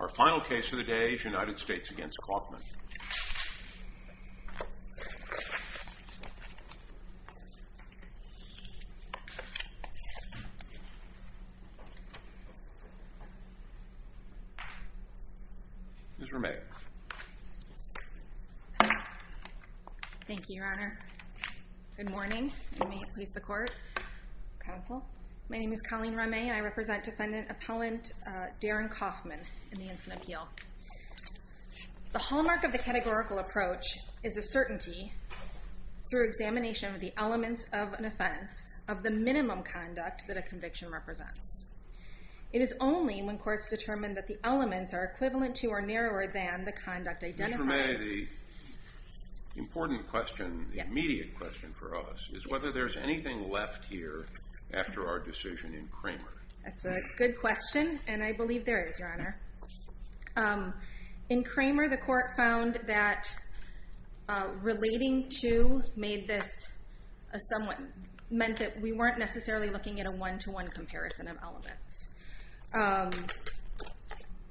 Our final case of the day is United States v. Kaufmann. Ms. Rameh. Thank you, Your Honor. Good morning, and may it please the court, counsel. My name is Colleen Rameh, and I represent Defendant Appellant Darin Kaufmann in the Instant Appeal. The hallmark of the categorical approach is a certainty through examination of the elements of an offense of the minimum conduct that a conviction represents. It is only when courts determine that the elements are equivalent to or narrower than the conduct identified. Ms. Rameh, the important question, the immediate question for us, is whether there's anything left here after our decision in Kramer. That's a good question, and I believe there is, Your Honor. In Kramer, the court found that relating to made this a somewhat meant that we weren't necessarily looking at a one-to-one comparison of elements.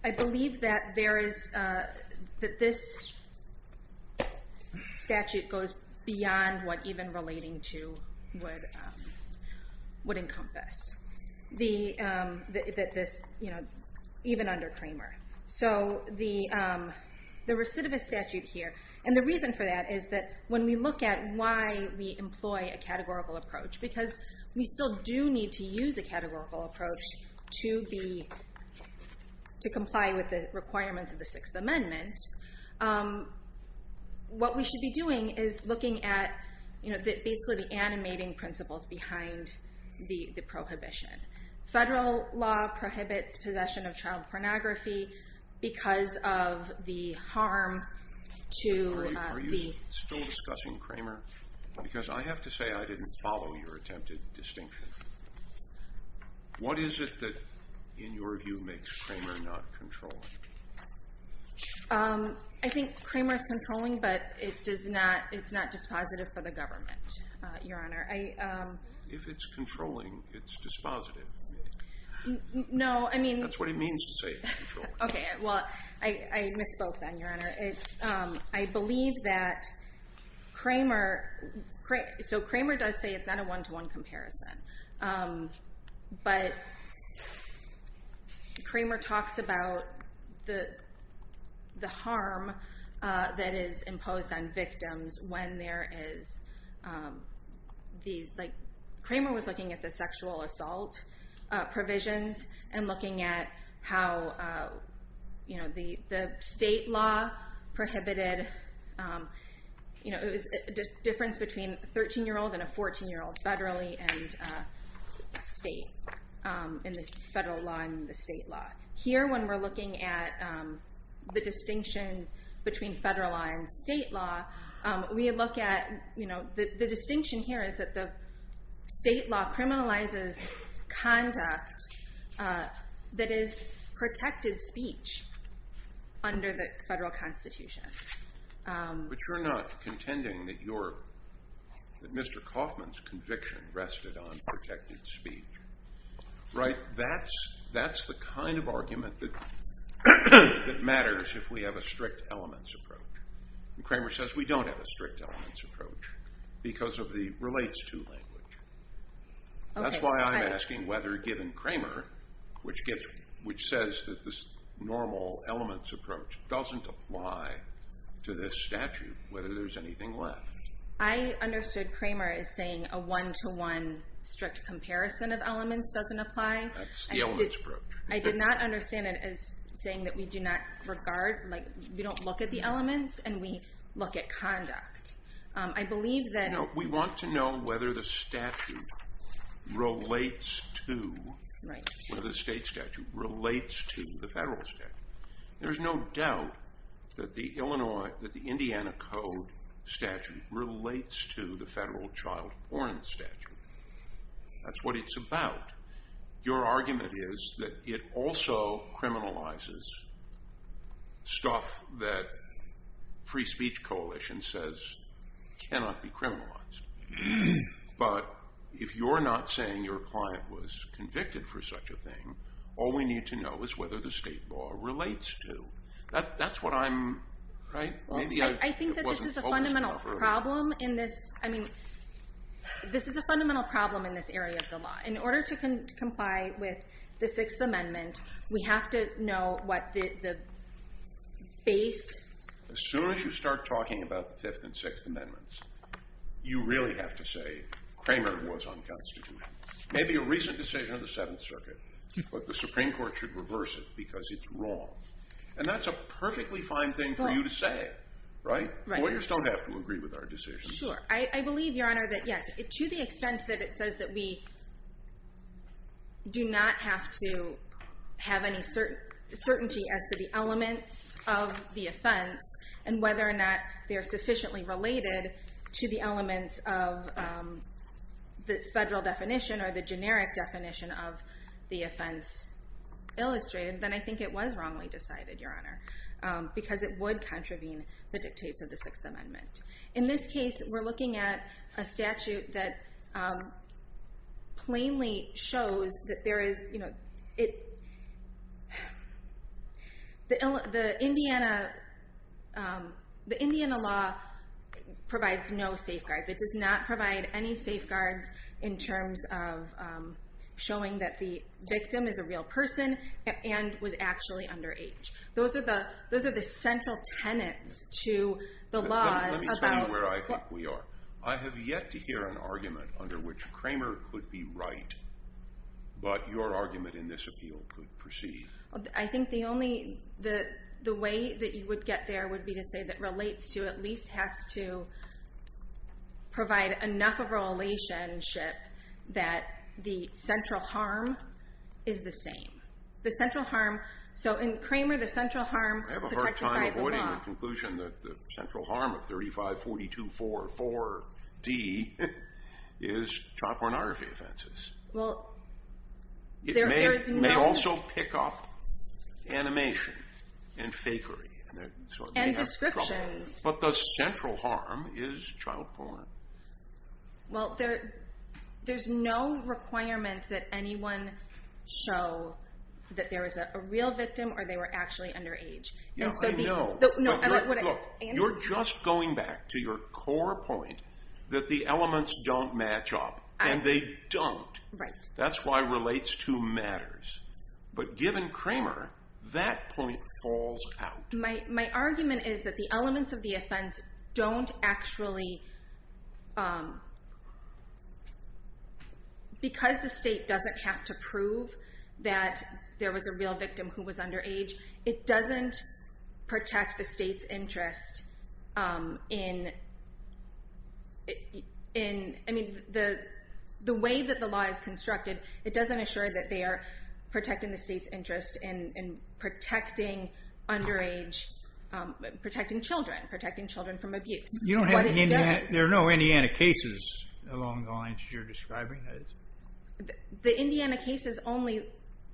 I believe that there is that this statute goes beyond what even relating to would encompass, even under Kramer. So the recidivist statute here, and the reason for that is that when we look at why we employ a categorical approach, because we still do need to use a categorical approach to comply with the requirements of the Sixth Amendment, what we should be doing is looking at basically the animating principles behind the prohibition. Federal law prohibits possession of child pornography because of the harm to the- Are you still discussing Kramer? Because I have to say I didn't follow your attempted distinction. What is it that, in your view, makes Kramer not controlling? I think Kramer's controlling, but it's not dispositive for the government, Your Honor. If it's controlling, it's dispositive. No, I mean- That's what it means to say it's controlling. OK, well, I misspoke then, Your Honor. I believe that Kramer, so Kramer does say it's not a one-to-one comparison. But Kramer talks about the harm that is imposed on victims when there is these- Kramer was looking at the sexual assault provisions and looking at how the state law prohibited- It was a difference between a 13-year-old and a 14-year-old, federally and state, in the federal law and the state law. Here, when we're looking at the distinction between federal law and state law, we look at- the distinction here is that the state law criminalizes conduct that is protected speech under the federal Constitution. But you're not contending that Mr. Kaufman's conviction rested on protected speech, right? That's the kind of argument that matters if we have a strict elements approach. Kramer says we don't have a strict elements approach because of the relates to language. That's why I'm asking whether, given Kramer, which says that this normal elements approach doesn't apply to this statute, whether there's anything left. I understood Kramer as saying a one-to-one strict comparison of elements doesn't apply. That's the elements approach. I did not understand it as saying that we do not regard- we don't look at the elements and we look at conduct. I believe that- No, we want to know whether the statute relates to- Right. Whether the state statute relates to the federal statute. There's no doubt that the Indiana Code statute relates to the federal child porn statute. That's what it's about. Your argument is that it also criminalizes stuff that free speech coalition says cannot be criminalized. But if you're not saying your client was convicted for such a thing, all we need to know is whether the state law relates to. That's what I'm- I think that this is a fundamental problem in this- I mean, this is a fundamental problem in this area of the law. In order to comply with the Sixth Amendment, we have to know what the base- As soon as you start talking about the Fifth and Sixth Amendments, you really have to say Kramer was unconstituted. Maybe a recent decision of the Seventh Circuit, but the Supreme Court should reverse it because it's wrong. And that's a perfectly fine thing for you to say. Right? Lawyers don't have to agree with our decisions. Sure. I believe, Your Honor, that yes. To the extent that it says that we do not have to have any certainty as to the elements of the offense and whether or not they're sufficiently related to the elements of the federal definition or the generic definition of the offense illustrated, then I think it was wrongly decided, Your Honor, because it would contravene the dictates of the Sixth Amendment. In this case, we're looking at a statute that plainly shows that there is- The Indiana law provides no safeguards. It does not provide any safeguards in terms of showing that the victim is a real person and was actually underage. Those are the central tenets to the law about- Let me tell you where I think we are. I have yet to hear an argument under which Kramer could be right, but your argument in this appeal could proceed. I think the only- The way that you would get there would be to say that relates to at least has to provide enough of a relationship that the central harm is the same. The central harm- So in Kramer, the central harm- I have a hard time avoiding the conclusion that the central harm of 3542.44d is child pornography offenses. Well, there is no- Animation and fakery, so it may have trouble. And descriptions. But the central harm is child porn. Well, there's no requirement that anyone show that there is a real victim or they were actually underage. Yeah, I know. Look, you're just going back to your core point that the elements don't match up, and they don't. That's why relates to matters. But given Kramer, that point falls out. My argument is that the elements of the offense don't actually- Because the state doesn't have to prove that there was a real victim who was underage, it doesn't protect the state's interest in- I mean, the way that the law is constructed, it doesn't assure that they are protecting the state's interest in protecting underage-protecting children, protecting children from abuse. You don't have- There are no Indiana cases along the lines that you're describing. The Indiana cases only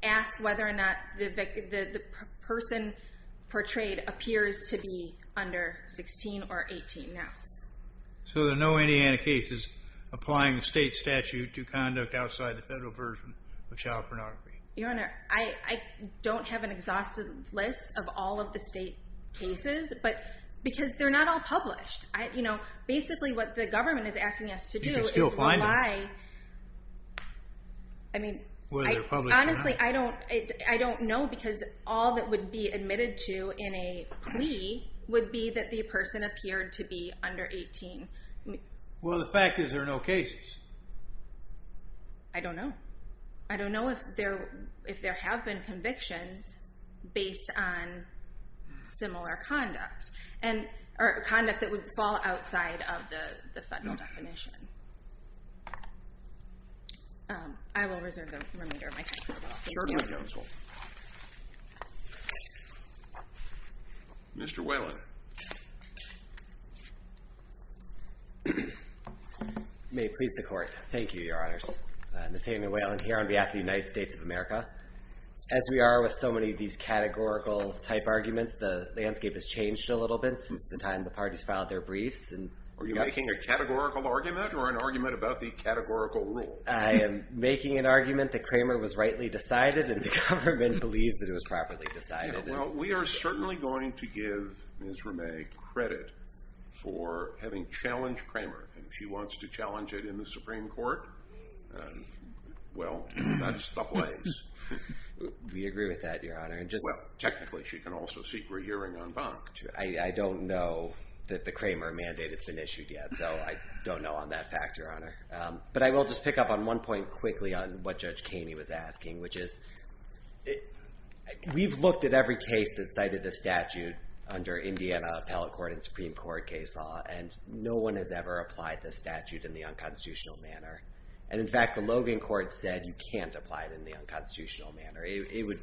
ask whether or not the person portrayed appears to be under 16 or 18 now. So there are no Indiana cases applying the state statute to conduct outside the federal version of child pornography. Your Honor, I don't have an exhaustive list of all of the state cases because they're not all published. Basically, what the government is asking us to do is rely- You can still find them, whether they're published or not. Honestly, I don't know because all that would be admitted to in a plea would be that the person appeared to be under 18. Well, the fact is there are no cases. I don't know. I don't know if there have been convictions based on similar conduct or conduct that would fall outside of the federal definition. I will reserve the remeter of my time for the law. Your Honor. Mr. Whalen. May it please the Court. Thank you, Your Honors. Nathaniel Whalen here on behalf of the United States of America. As we are with so many of these categorical-type arguments, the landscape has changed a little bit since the time the parties filed their briefs. Are you making a categorical argument or an argument about the categorical rule? I am making an argument that Kramer was rightly decided and the government believes that it was properly decided. Well, we are certainly going to give Ms. Ramay credit for having challenged Kramer, and if she wants to challenge it in the Supreme Court, well, that's the place. We agree with that, Your Honor. Well, technically, she can also seek re-hearing en banc. I don't know that the Kramer mandate has been issued yet, so I don't know on that fact, Your Honor. But I will just pick up on one point quickly on what Judge Kaney was asking, which is we've looked at every case that cited this statute under Indiana Appellate Court and Supreme Court case law, and no one has ever applied this statute in the unconstitutional manner. And, in fact, the Logan Court said you can't apply it in the unconstitutional manner. It would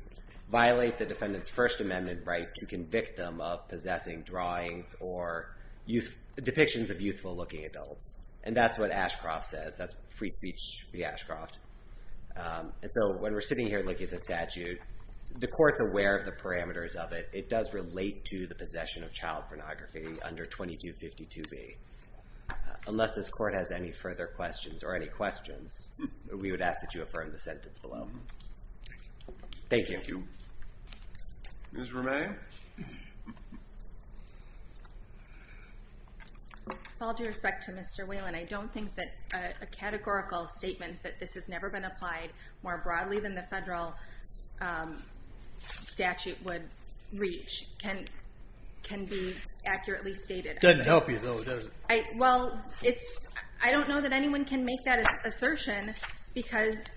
violate the defendant's First Amendment right to convict them of possessing drawings or depictions of youthful-looking adults, and that's what Ashcroft says. That's free speech, Ashcroft. And so when we're sitting here looking at the statute, the court's aware of the parameters of it. It does relate to the possession of child pornography under 2252B. Unless this court has any further questions or any questions, we would ask that you affirm the sentence below. Thank you. Thank you. Ms. Romay? With all due respect to Mr. Whelan, I don't think that a categorical statement that this has never been applied more broadly than the federal statute would reach can be accurately stated. It doesn't help you, though, does it? Well, I don't know that anyone can make that assertion because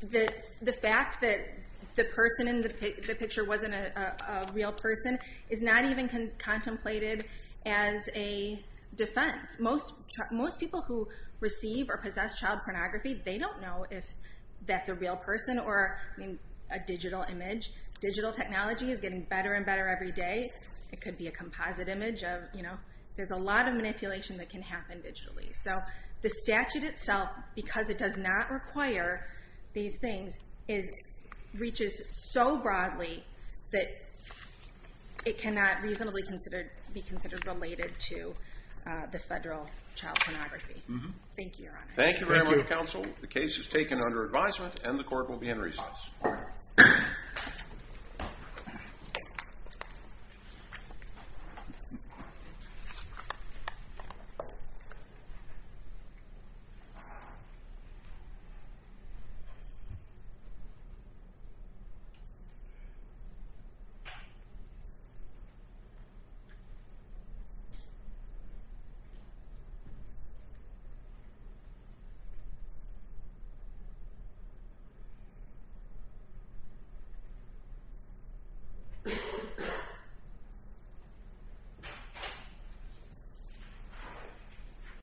the fact that the person in the picture wasn't a real person is not even contemplated as a defense. Most people who receive or possess child pornography, they don't know if that's a real person or a digital image. Digital technology is getting better and better every day. It could be a composite image. There's a lot of manipulation that can happen digitally. So the statute itself, because it does not require these things, reaches so broadly that it cannot reasonably be considered related to the federal child pornography. Thank you, Your Honor. Thank you very much, counsel. The case is taken under advisement and the court will be in recess. Thank you.